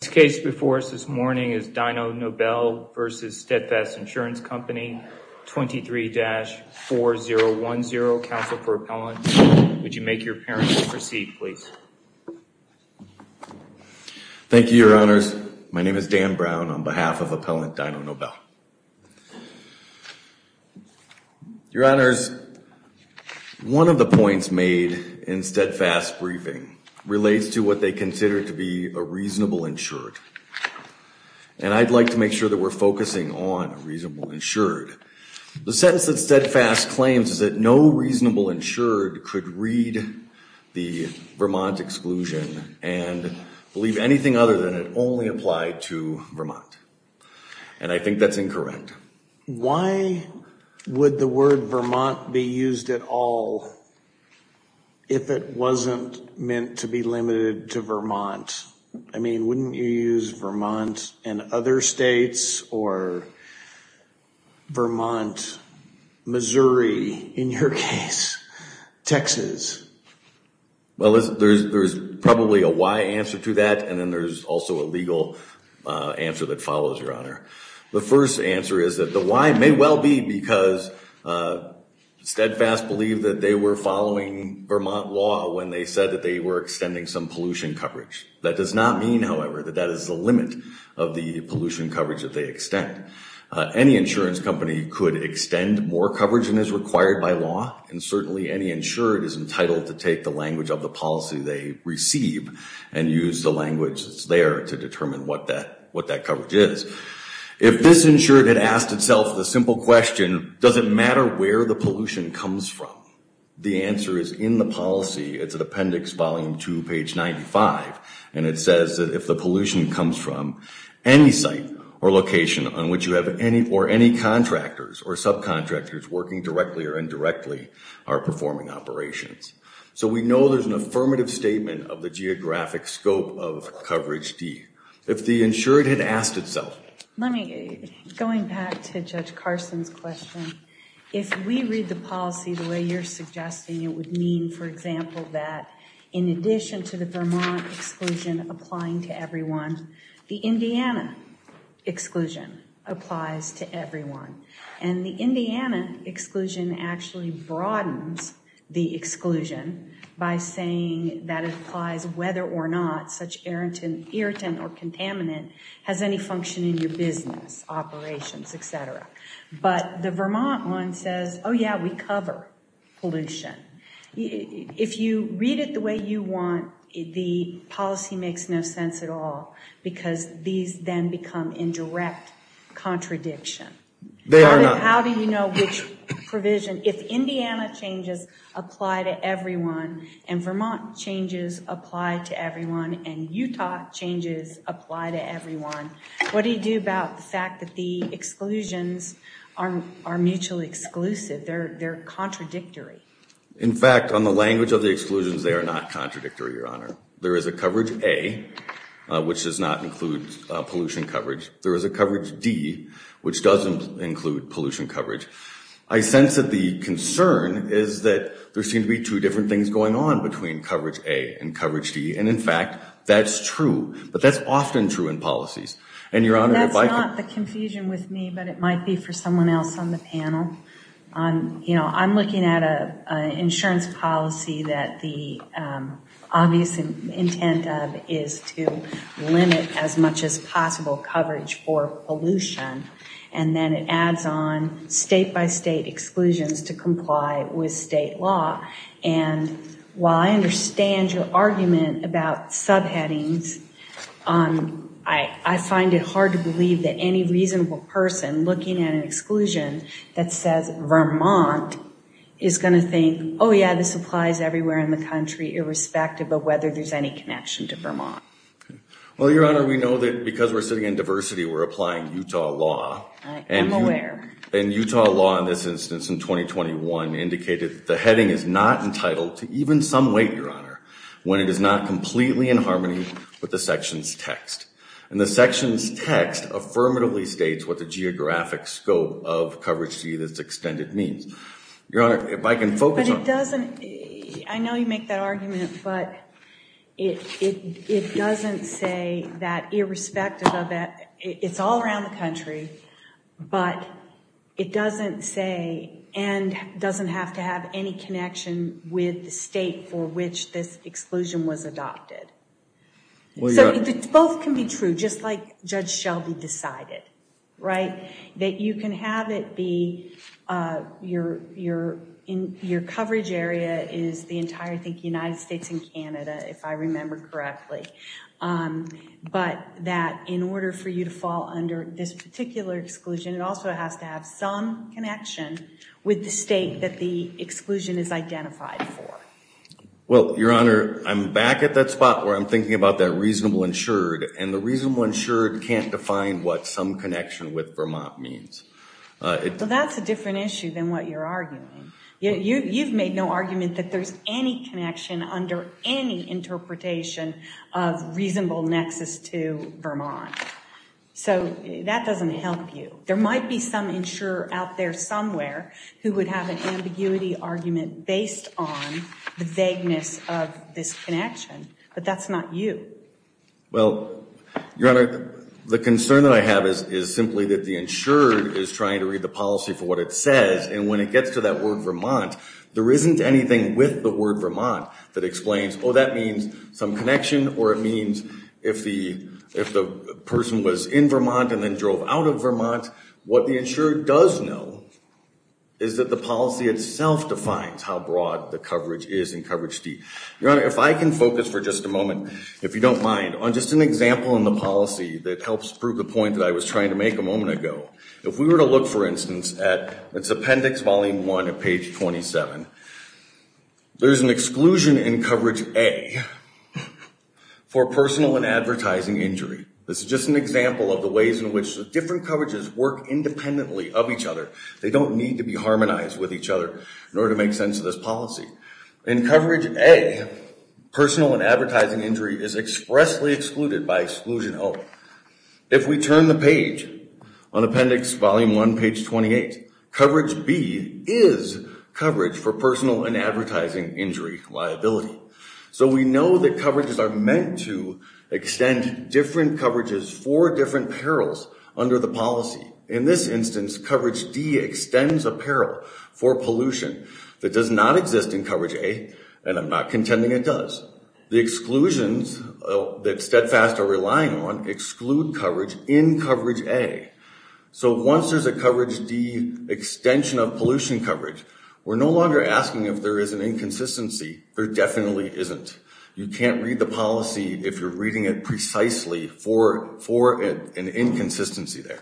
This case before us this morning is Dino Nobel v. Steadfast Insurance Company, 23-4010. Counsel for Appellant, would you make your appearance and proceed, please? Thank you, Your Honors. My name is Dan Brown on behalf of Appellant Dino Nobel. Your Honors, one of the points made in Steadfast's briefing relates to what they consider to be a reasonable insured, and I'd like to make sure that we're focusing on a reasonable insured. The sentence that Steadfast claims is that no reasonable insured could read the Vermont exclusion and believe anything other than it only applied to Vermont, and I think that's incorrect. Why would the word Vermont be used at all if it wasn't meant to be limited to Vermont? I mean, wouldn't you use Vermont and other states or Vermont, Missouri, in your case, Texas? Well, there's probably a why answer to that, and then there's also a legal answer that follows, Your Honor. The first answer is that the why may well be because Steadfast believed that they were following Vermont law when they said that they were extending some pollution coverage. That does not mean, however, that that is the limit of the pollution coverage that they extend. Any insurance company could extend more coverage than is required by law, and certainly any insured is entitled to take the language of the policy they receive and use the language that's there to determine what that coverage is. If this insured had asked itself the simple question, does it matter where the pollution comes from? The answer is in the policy. It's at appendix volume two, page 95, and it says that if the pollution comes from any site or location on which you have any, or any contractors or subcontractors working directly or indirectly are performing operations. So we know there's an affirmative statement of the geographic scope of coverage D. If the insured had asked itself. Let me, going back to Judge Carson's question, if we read the policy the way you're suggesting it would mean, for example, that in addition to the Vermont exclusion applying to everyone, the Indiana exclusion applies to everyone. And the Indiana exclusion actually broadens the exclusion by saying that it applies whether or not such irritant or contaminant has any function in your business, operations, et cetera. But the Vermont one says, oh yeah, we cover pollution. If you read it the way you want, the policy makes no sense at all because these then become indirect contradiction. They are not. How do you know which provision, if Indiana changes apply to everyone, and Vermont changes apply to everyone, and Utah changes apply to everyone, what do you do about the fact that the exclusions are mutually exclusive? They're contradictory. In fact, on the language of the exclusions, they are not contradictory, Your Honor. There is a coverage A, which does not include pollution coverage. There is a coverage D, which doesn't include pollution coverage. I sense that the concern is that there seem to be two different things going on between coverage A and coverage D. And in fact, that's true. But that's often true in policies. And Your Honor, if I could- That's not the confusion with me, but it might be for someone else on the panel. You know, I'm looking at an insurance policy that the obvious intent of is to limit as much as possible coverage for pollution. And then it adds on state-by-state exclusions to comply with state law. And while I understand your argument about subheadings, I find it hard to believe that any reasonable person looking at an exclusion that says Vermont is going to think, oh yeah, this applies everywhere in the country, irrespective of whether there's any connection to Vermont. Well, Your Honor, we know that because we're sitting in diversity, we're applying Utah law. I am aware. And Utah law in this instance in 2021 indicated that the heading is not entitled to even some weight, Your Honor, when it is not completely in harmony with the section's text. And the section's text affirmatively states what the geographic scope of coverage D that's extended means. Your Honor, if I can focus on- But it doesn't, I know you make that argument, but it doesn't say that irrespective of that, it's all around the country, but it doesn't say and doesn't have to have any connection with the state for which this exclusion was adopted. So both can be true, just like Judge Shelby decided, right? That you can have it be your coverage area is the entire, I think, United States and Canada, if I remember correctly. But that in order for you to fall under this particular exclusion, it also has to have some connection with the state that the exclusion is identified for. Well, Your Honor, I'm back at that spot where I'm thinking about that reasonable insured. And the reasonable insured can't define what some connection with Vermont means. That's a different issue than what you're arguing. You've made no argument that there's any connection under any interpretation of reasonable nexus to Vermont. So that doesn't help you. There might be some insurer out there somewhere who would have an ambiguity argument based on the vagueness of this connection. But that's not you. Well, Your Honor, the concern that I have is simply that the insured is trying to read the policy for what it says. And when it gets to that word Vermont, there isn't anything with the word Vermont that explains, oh, that means some connection. Or it means if the person was in Vermont and then drove out of Vermont. What the insured does know is that the policy itself defines how broad the coverage is in coverage D. Your Honor, if I can focus for just a moment, if you don't mind, on just an example in the policy that helps prove the point that I was trying to make a moment ago. If we were to look, for instance, at this Appendix Volume 1 at page 27, there's an exclusion in coverage A for personal and advertising injury. This is just an example of the ways in which the different coverages work independently of each other. They don't need to be harmonized with each other in order to make sense of this policy. In coverage A, personal and advertising injury is expressly excluded by exclusion O. If we turn the page on Appendix Volume 1, page 28, coverage B is coverage for personal and advertising injury liability. So we know that coverages are meant to extend different coverages for different perils under the policy. In this instance, coverage D extends a peril for pollution that does not exist in coverage A, and I'm not contending it does. The exclusions that Steadfast are relying on exclude coverage in coverage A. So once there's a coverage D extension of pollution coverage, we're no longer asking if there is an inconsistency. There definitely isn't. You can't read the policy if you're reading it precisely for an inconsistency there.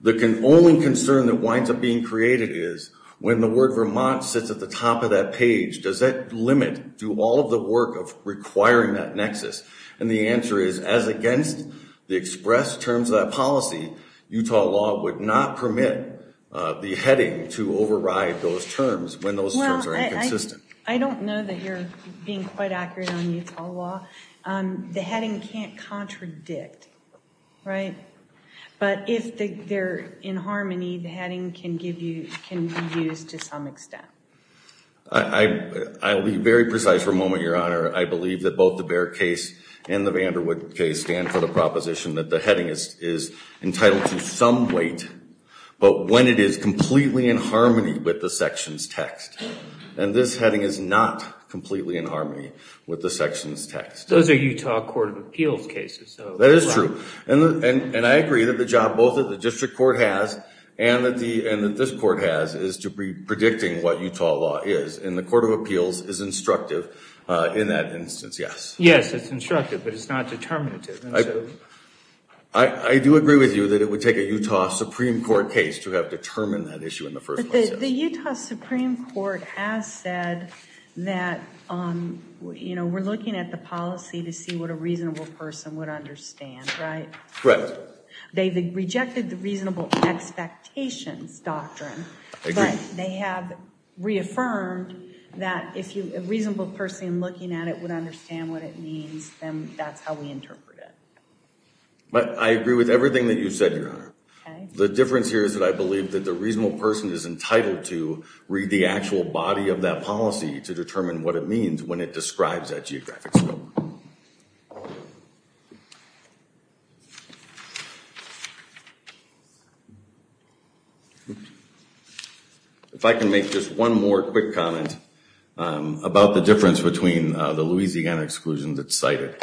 The only concern that winds up being created is when the word Vermont sits at the top of that page, does that limit do all of the work of requiring that nexus? And the answer is as against the expressed terms of that policy, Utah law would not permit the heading to override those terms when those terms are inconsistent. I don't know that you're being quite accurate on Utah law. The heading can't contradict, right? But if they're in harmony, the heading can be used to some extent. I'll be very precise for a moment, Your Honor. I believe that both the Bair case and the Vanderwood case stand for the proposition that the heading is entitled to some weight, but when it is completely in harmony with the section's text. And this heading is not completely in harmony with the section's text. Those are Utah Court of Appeals cases. That is true. And I agree that the job both that the district court has and that this court has is to be predicting what Utah law is. And the Court of Appeals is instructive in that instance, yes. Yes, it's instructive, but it's not determinative. I do agree with you that it would take a Utah Supreme Court case to have determined that issue in the first place. The Utah Supreme Court has said that, you know, we're looking at the policy to see what a reasonable person would understand, right? Correct. They've rejected the reasonable expectations doctrine. But they have reaffirmed that if a reasonable person looking at it would understand what it means, then that's how we interpret it. The difference here is that I believe that the reasonable person is entitled to read the actual body of that policy to determine what it means when it describes that geographic scope. If I can make just one more quick comment about the difference between the Louisiana exclusions that's cited.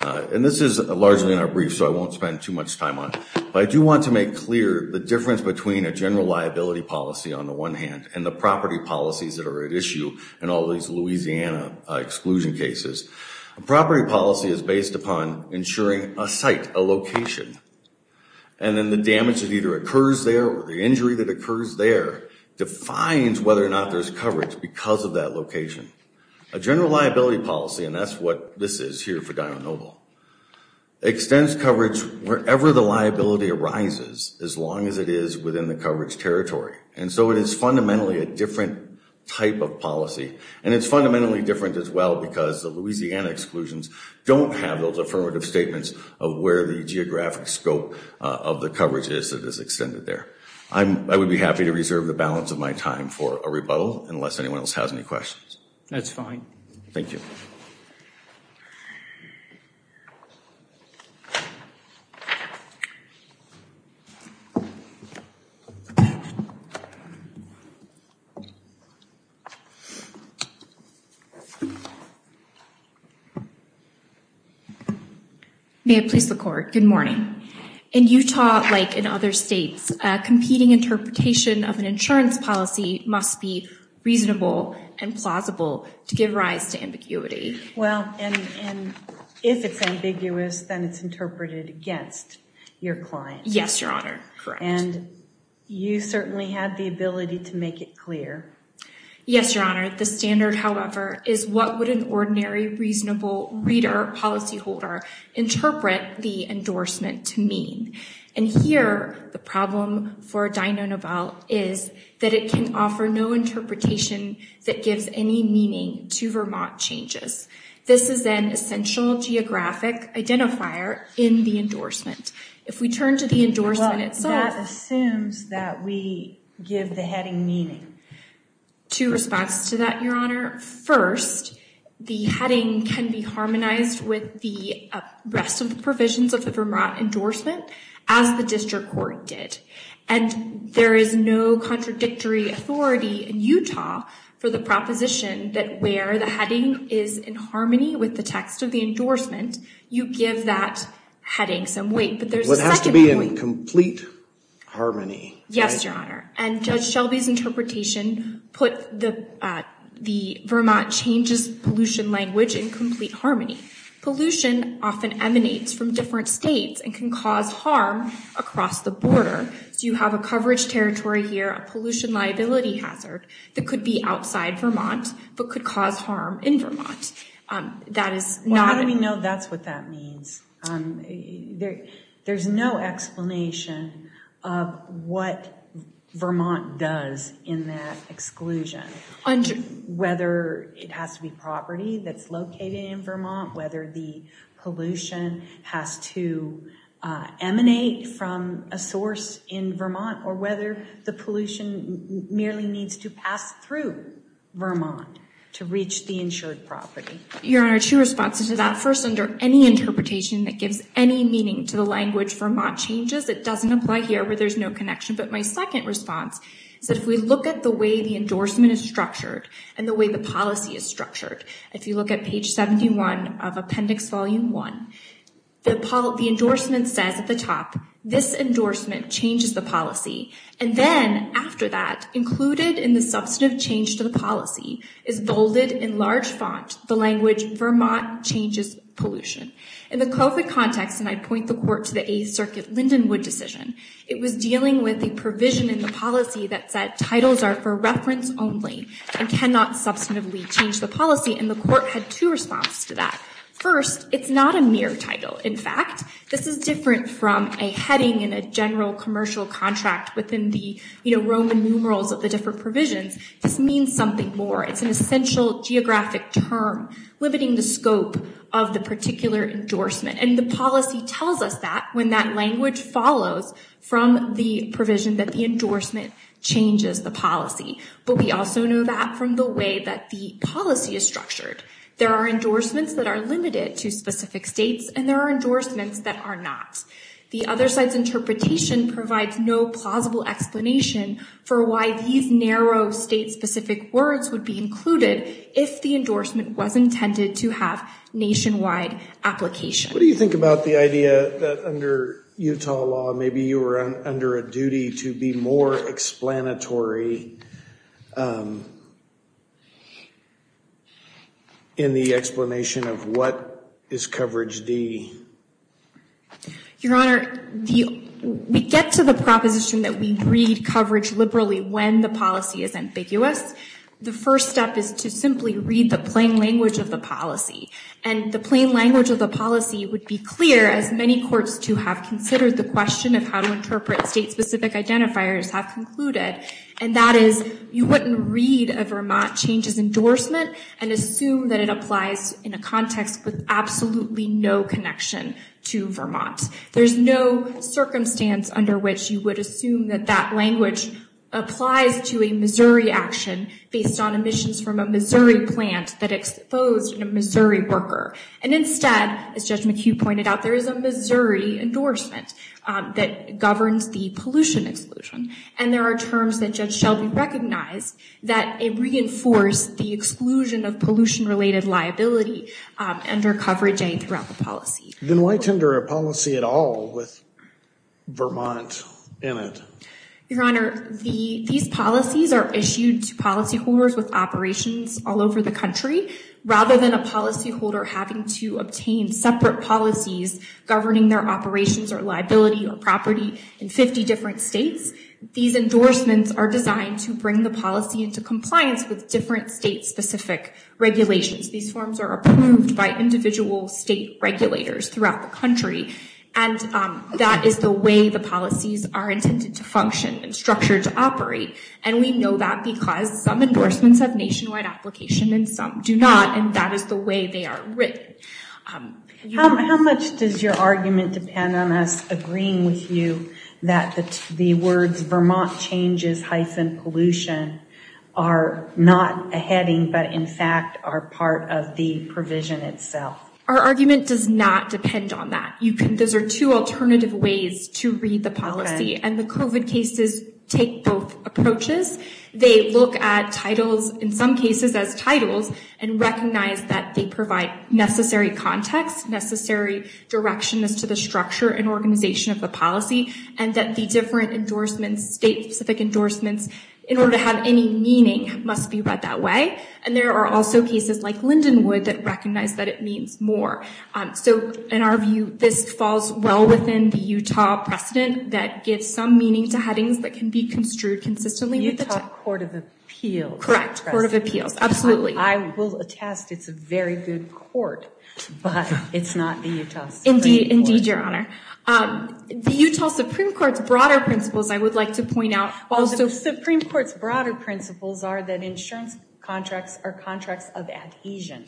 And this is largely in our brief, so I won't spend too much time on it. But I do want to make clear the difference between a general liability policy on the one hand and the property policies that are at issue in all these Louisiana exclusion cases. A property policy is based upon ensuring a site, a location. And then the damage that either occurs there or the injury that occurs there defines whether or not there's coverage because of that location. A general liability policy, and that's what this is here for Dinah Noble, extends coverage wherever the liability arises as long as it is within the coverage territory. And so it is fundamentally a different type of policy. And it's fundamentally different as well because the Louisiana exclusions don't have those affirmative statements of where the geographic scope of the coverage is that is extended there. I would be happy to reserve the balance of my time for a rebuttal unless anyone else has any questions. That's fine. Thank you. Thank you. May it please the court. Good morning. In Utah, like in other states, competing interpretation of an insurance policy must be reasonable and plausible to give rise to ambiguity. Well, and if it's ambiguous, then it's interpreted against your client. Yes, Your Honor. Correct. And you certainly have the ability to make it clear. Yes, Your Honor. The standard, however, is what would an ordinary, reasonable reader or policyholder interpret the endorsement to mean. And here, the problem for Dyno-Nobel is that it can offer no interpretation that gives any meaning to Vermont changes. This is an essential geographic identifier in the endorsement. If we turn to the endorsement itself. Well, that assumes that we give the heading meaning. Two response to that, Your Honor. First, the heading can be harmonized with the rest of the provisions of the Vermont endorsement as the district court did. And there is no contradictory authority in Utah for the proposition that where the heading is in harmony with the text of the endorsement, you give that heading some weight. But there's a second point. It has to be in complete harmony. Yes, Your Honor. And Judge Shelby's interpretation put the Vermont changes pollution language in complete harmony. Pollution often emanates from different states and can cause harm across the border. So you have a coverage territory here, a pollution liability hazard that could be outside Vermont but could cause harm in Vermont. Well, how do we know that's what that means? There's no explanation of what Vermont does in that exclusion. Whether it has to be property that's located in Vermont, whether the pollution has to emanate from a source in Vermont, or whether the pollution merely needs to pass through Vermont to reach the insured property. Your Honor, two responses to that. First, under any interpretation that gives any meaning to the language Vermont changes, it doesn't apply here where there's no connection. But my second response is that if we look at the way the endorsement is structured and the way the policy is structured, if you look at page 71 of Appendix Volume 1, the endorsement says at the top, this endorsement changes the policy. And then after that, included in the substantive change to the policy is bolded in large font, the language Vermont changes pollution. In the COVID context, and I point the court to the Eighth Circuit Lindenwood decision, it was dealing with the provision in the policy that said titles are for reference only and cannot substantively change the policy. And the court had two responses to that. First, it's not a mere title. In fact, this is different from a heading in a general commercial contract within the Roman numerals of the different provisions. This means something more. It's an essential geographic term limiting the scope of the particular endorsement. And the policy tells us that when that language follows from the provision that the endorsement changes the policy. But we also know that from the way that the policy is structured. There are endorsements that are limited to specific states, and there are endorsements that are not. The other side's interpretation provides no plausible explanation for why these narrow state-specific words would be included if the endorsement was intended to have nationwide application. What do you think about the idea that under Utah law, maybe you were under a duty to be more explanatory in the explanation of what is coverage D? Your Honor, we get to the proposition that we read coverage liberally when the policy is ambiguous. The first step is to simply read the plain language of the policy. And the plain language of the policy would be clear as many courts to have considered the question of how to interpret state-specific identifiers have concluded. And that is you wouldn't read a Vermont changes endorsement and assume that it applies in a context with absolutely no connection to Vermont. There's no circumstance under which you would assume that that language applies to a Missouri action based on emissions from a Missouri plant that exposed a Missouri worker. And instead, as Judge McHugh pointed out, there is a Missouri endorsement that governs the pollution exclusion. And there are terms that Judge Shelby recognized that reinforce the exclusion of pollution-related liability under coverage A throughout the policy. Then why tender a policy at all with Vermont in it? Your Honor, these policies are issued to policyholders with operations all over the country. Rather than a policyholder having to obtain separate policies governing their operations or liability or property in 50 different states, these endorsements are designed to bring the policy into compliance with different state-specific regulations. These forms are approved by individual state regulators throughout the country. And that is the way the policies are intended to function and structured to operate. And we know that because some endorsements have nationwide application and some do not. And that is the way they are written. How much does your argument depend on us agreeing with you that the words Vermont changes hyphen pollution are not a heading, but in fact are part of the provision itself? Our argument does not depend on that. You can those are two alternative ways to read the policy and the COVID cases take both approaches. They look at titles, in some cases as titles, and recognize that they provide necessary context, necessary direction as to the structure and organization of the policy, and that the different endorsements, state-specific endorsements, in order to have any meaning must be read that way. And there are also cases like Lindenwood that recognize that it means more. So, in our view, this falls well within the Utah precedent that gives some meaning to headings that can be construed consistently. The Utah Court of Appeals. Correct. Court of Appeals. Absolutely. I will attest it's a very good court, but it's not the Utah Supreme Court. Indeed, Your Honor. The Utah Supreme Court's broader principles, I would like to point out. The Supreme Court's broader principles are that insurance contracts are contracts of adhesion.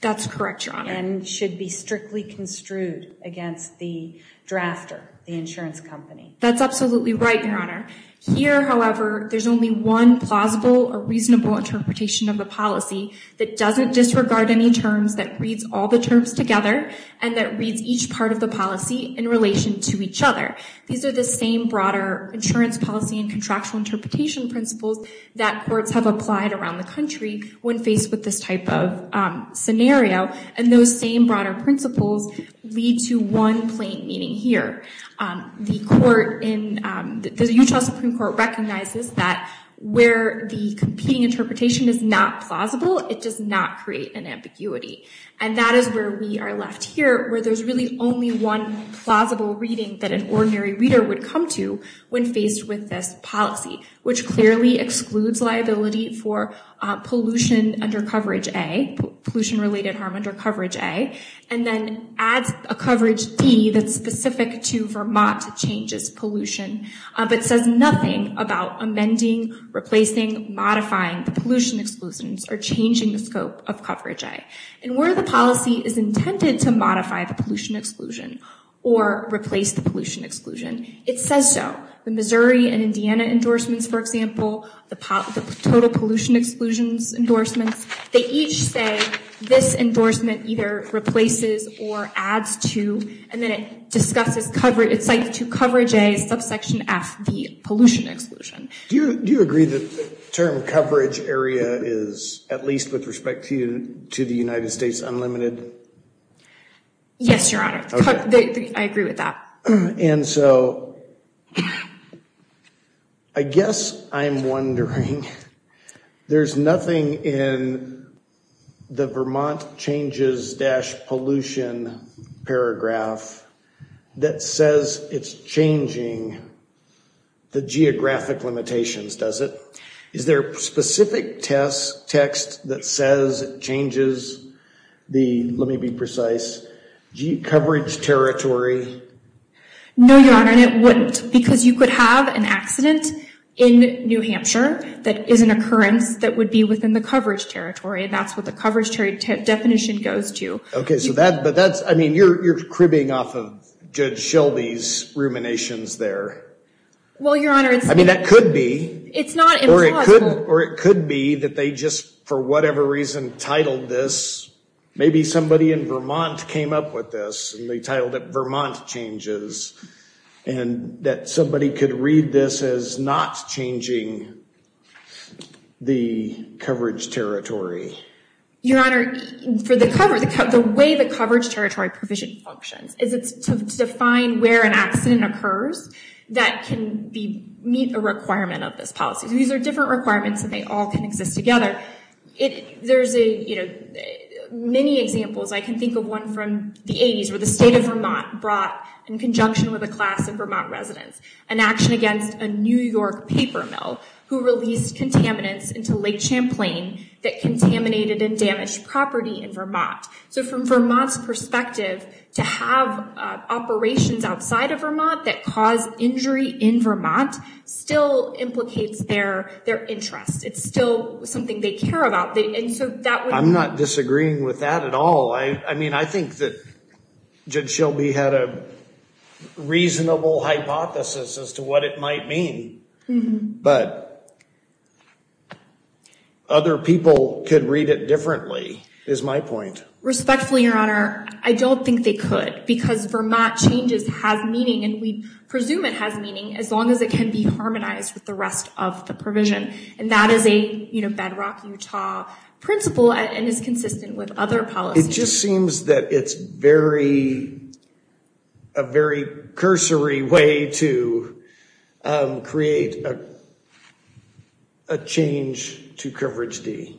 That's correct, Your Honor. And should be strictly construed against the drafter, the insurance company. That's absolutely right, Your Honor. Here, however, there's only one plausible or reasonable interpretation of the policy that doesn't disregard any terms, that reads all the terms together, and that reads each part of the policy in relation to each other. These are the same broader insurance policy and contractual interpretation principles that courts have applied around the country when faced with this type of scenario. And those same broader principles lead to one plain meaning here. The court in the Utah Supreme Court recognizes that where the competing interpretation is not plausible, it does not create an ambiguity. And that is where we are left here, where there's really only one plausible reading that an ordinary reader would come to when faced with this policy, which clearly excludes liability for pollution under coverage A, pollution-related harm under coverage A, and then adds a coverage D that's specific to Vermont changes pollution, but says nothing about amending, replacing, modifying the pollution exclusions or changing the scope of coverage A. And where the policy is intended to modify the pollution exclusion or replace the pollution exclusion, it says so. The Missouri and Indiana endorsements, for example, the total pollution exclusions endorsements, they each say this endorsement either replaces or adds to, and then it discusses coverage, it cites to coverage A, subsection F, the pollution exclusion. Do you agree that the term coverage area is, at least with respect to the United States, unlimited? Yes, Your Honor. Okay. I agree with that. And so I guess I'm wondering, there's nothing in the Vermont changes-pollution paragraph that says it's changing the geographic limitations, does it? Is there a specific text that says it changes the, let me be precise, coverage territory? No, Your Honor, and it wouldn't, because you could have an accident in New Hampshire that is an occurrence that would be within the coverage territory, and that's what the coverage definition goes to. Okay, so that, but that's, I mean, you're cribbing off of Judge Shelby's ruminations there. Well, Your Honor, it's... I mean, that could be. It's not implausible. Or it could be that they just, for whatever reason, titled this, maybe somebody in Vermont came up with this, and they titled it Vermont changes, and that somebody could read this as not changing the coverage territory. Your Honor, for the coverage, the way the coverage territory provision functions is it's to define where an accident occurs that can meet a requirement of this policy. These are different requirements, and they all can exist together. There's many examples. I can think of one from the 80s where the state of Vermont brought, in conjunction with a class of Vermont residents, an action against a New York paper mill who released contaminants into Lake Champlain that contaminated and damaged property in Vermont. So from Vermont's perspective, to have operations outside of Vermont that cause injury in Vermont still implicates their interest. It's still something they care about, and so that would... I'm not disagreeing with that at all. I mean, I think that Judge Shelby had a reasonable hypothesis as to what it might mean. But other people could read it differently, is my point. Respectfully, Your Honor, I don't think they could, because Vermont changes have meaning, and we presume it has meaning as long as it can be harmonized with the rest of the provision, and that is a bedrock Utah principle and is consistent with other policies. It just seems that it's a very cursory way to create a change to Coverage D.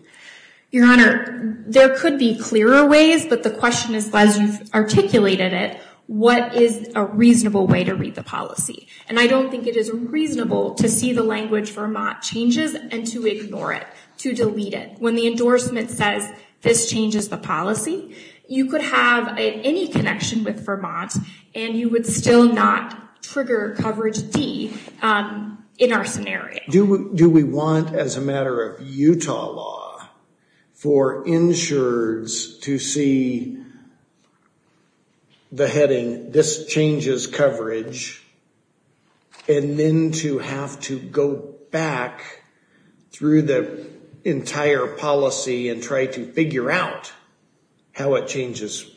Your Honor, there could be clearer ways, but the question is, as you've articulated it, what is a reasonable way to read the policy? And I don't think it is reasonable to see the language Vermont changes and to ignore it, to delete it. When the endorsement says this changes the policy, you could have any connection with Vermont, and you would still not trigger Coverage D in our scenario. Do we want, as a matter of Utah law, for insurers to see the heading, and this changes coverage, and then to have to go back through the entire policy and try to figure out how it changes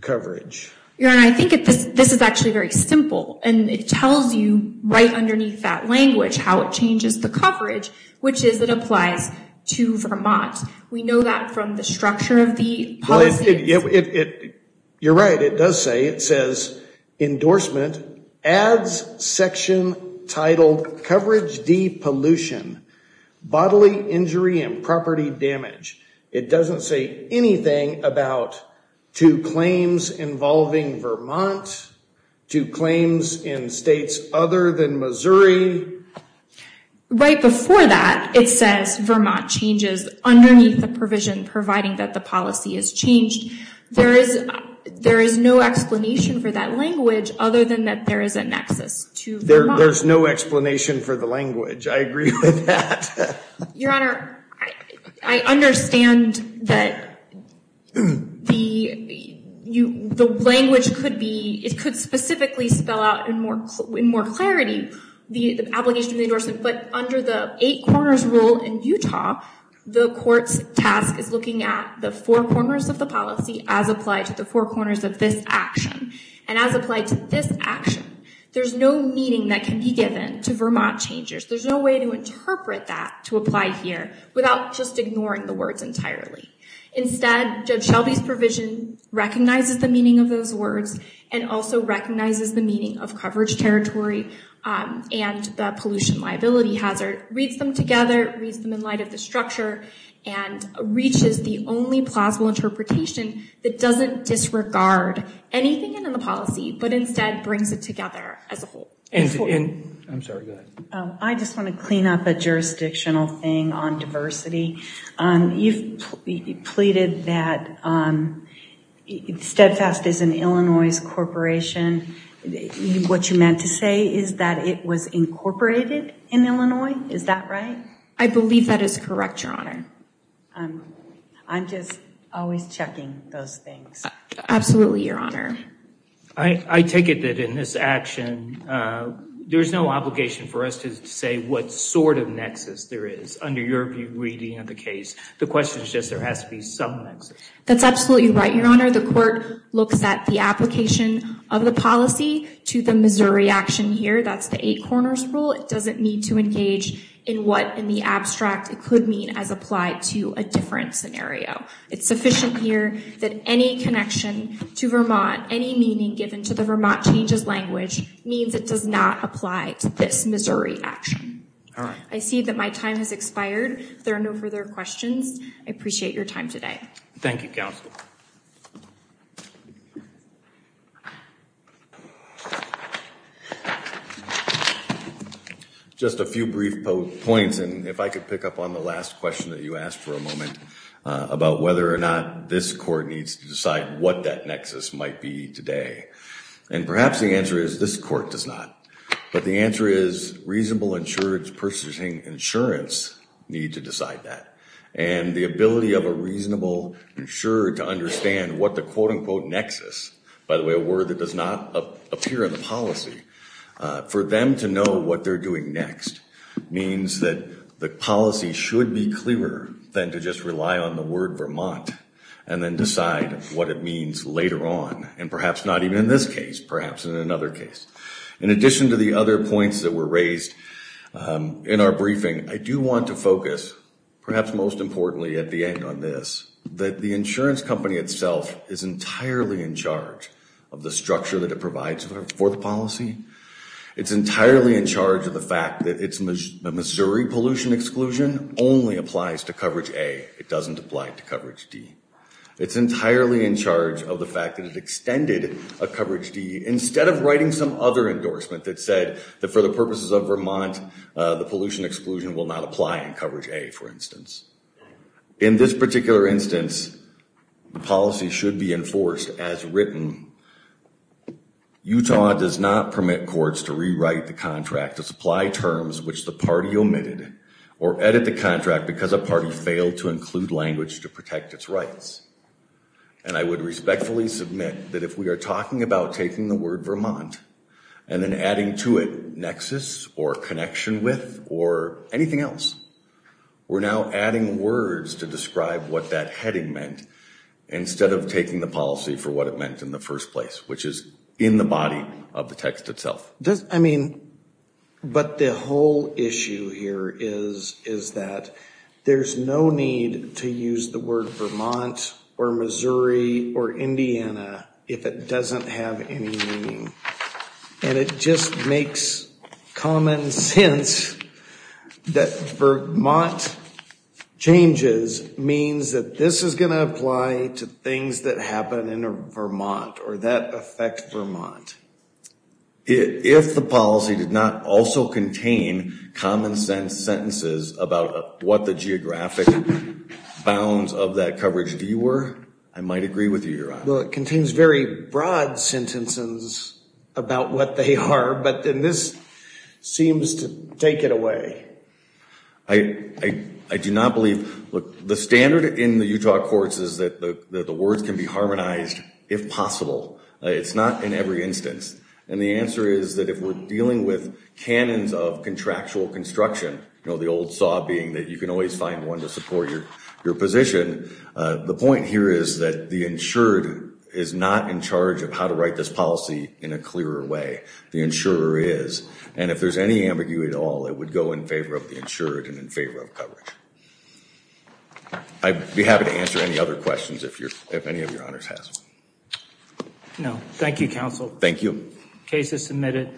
coverage? Your Honor, I think this is actually very simple, and it tells you right underneath that language how it changes the coverage, which is it applies to Vermont. We know that from the structure of the policy. You're right, it does say, it says, endorsement, ads section titled Coverage D pollution, bodily injury and property damage. It doesn't say anything about to claims involving Vermont, to claims in states other than Missouri. Right before that, it says Vermont changes underneath the provision, providing that the policy is changed. There is no explanation for that language other than that there is a nexus to Vermont. There's no explanation for the language. I agree with that. Your Honor, I understand that the language could be, it could specifically spell out in more clarity the obligation of the endorsement, but under the eight corners rule in Utah, the court's task is looking at the four corners of the policy as applied to the four corners of this action, and as applied to this action, there's no meaning that can be given to Vermont changes. There's no way to interpret that to apply here without just ignoring the words entirely. Instead, Shelby's provision recognizes the meaning of those words and also recognizes the meaning of coverage territory and the pollution liability hazard, reads them together, reads them in light of the structure, and reaches the only plausible interpretation that doesn't disregard anything in the policy, but instead brings it together as a whole. I'm sorry, go ahead. I just want to clean up a jurisdictional thing on diversity. You've pleaded that Steadfast is an Illinois corporation. What you meant to say is that it was incorporated in Illinois. Is that right? I believe that is correct, Your Honor. I'm just always checking those things. Absolutely, Your Honor. I take it that in this action, there's no obligation for us to say what sort of nexus there is. That's under your reading of the case. The question is just there has to be some nexus. That's absolutely right, Your Honor. The court looks at the application of the policy to the Missouri action here. That's the eight corners rule. It doesn't need to engage in what in the abstract it could mean as applied to a different scenario. It's sufficient here that any connection to Vermont, any meaning given to the Vermont changes language, means it does not apply to this Missouri action. I see that my time has expired. If there are no further questions, I appreciate your time today. Thank you, Counsel. Just a few brief points, and if I could pick up on the last question that you asked for a moment about whether or not this court needs to decide what that nexus might be today. Perhaps the answer is this court does not. But the answer is reasonable insurance, purchasing insurance need to decide that. And the ability of a reasonable insurer to understand what the quote-unquote nexus, by the way, a word that does not appear in the policy, for them to know what they're doing next means that the policy should be clearer than to just rely on the word Vermont and then decide what it means later on, and perhaps not even in this case, perhaps in another case. In addition to the other points that were raised in our briefing, I do want to focus, perhaps most importantly at the end on this, that the insurance company itself is entirely in charge of the structure that it provides for the policy. It's entirely in charge of the fact that its Missouri pollution exclusion only applies to coverage A. It doesn't apply to coverage D. It's entirely in charge of the fact that it extended a coverage D instead of writing some other endorsement that said that for the purposes of Vermont, the pollution exclusion will not apply in coverage A, for instance. In this particular instance, the policy should be enforced as written. Utah does not permit courts to rewrite the contract to supply terms which the party omitted or edit the contract because a party failed to include language to protect its rights. And I would respectfully submit that if we are talking about taking the word Vermont and then adding to it nexus or connection with or anything else, we're now adding words to describe what that heading meant instead of taking the policy for what it meant in the first place, which is in the body of the text itself. But the whole issue here is that there's no need to use the word Vermont or Missouri or Indiana if it doesn't have any meaning. And it just makes common sense that Vermont changes means that this is going to apply to things that happen in Vermont or that affect Vermont. If the policy did not also contain common sense sentences about what the geographic bounds of that coverage D were, I might agree with you, Your Honor. Well, it contains very broad sentences about what they are, but then this seems to take it away. I do not believe, look, the standard in the Utah courts is that the words can be harmonized if possible. It's not in every instance. And the answer is that if we're dealing with canons of contractual construction, the old saw being that you can always find one to support your position, the point here is that the insured is not in charge of how to write this policy in a clearer way. The insurer is. And if there's any ambiguity at all, it would go in favor of the insured and in favor of coverage. I'd be happy to answer any other questions if any of your honors has. No. Thank you, counsel. Thank you. Case is submitted.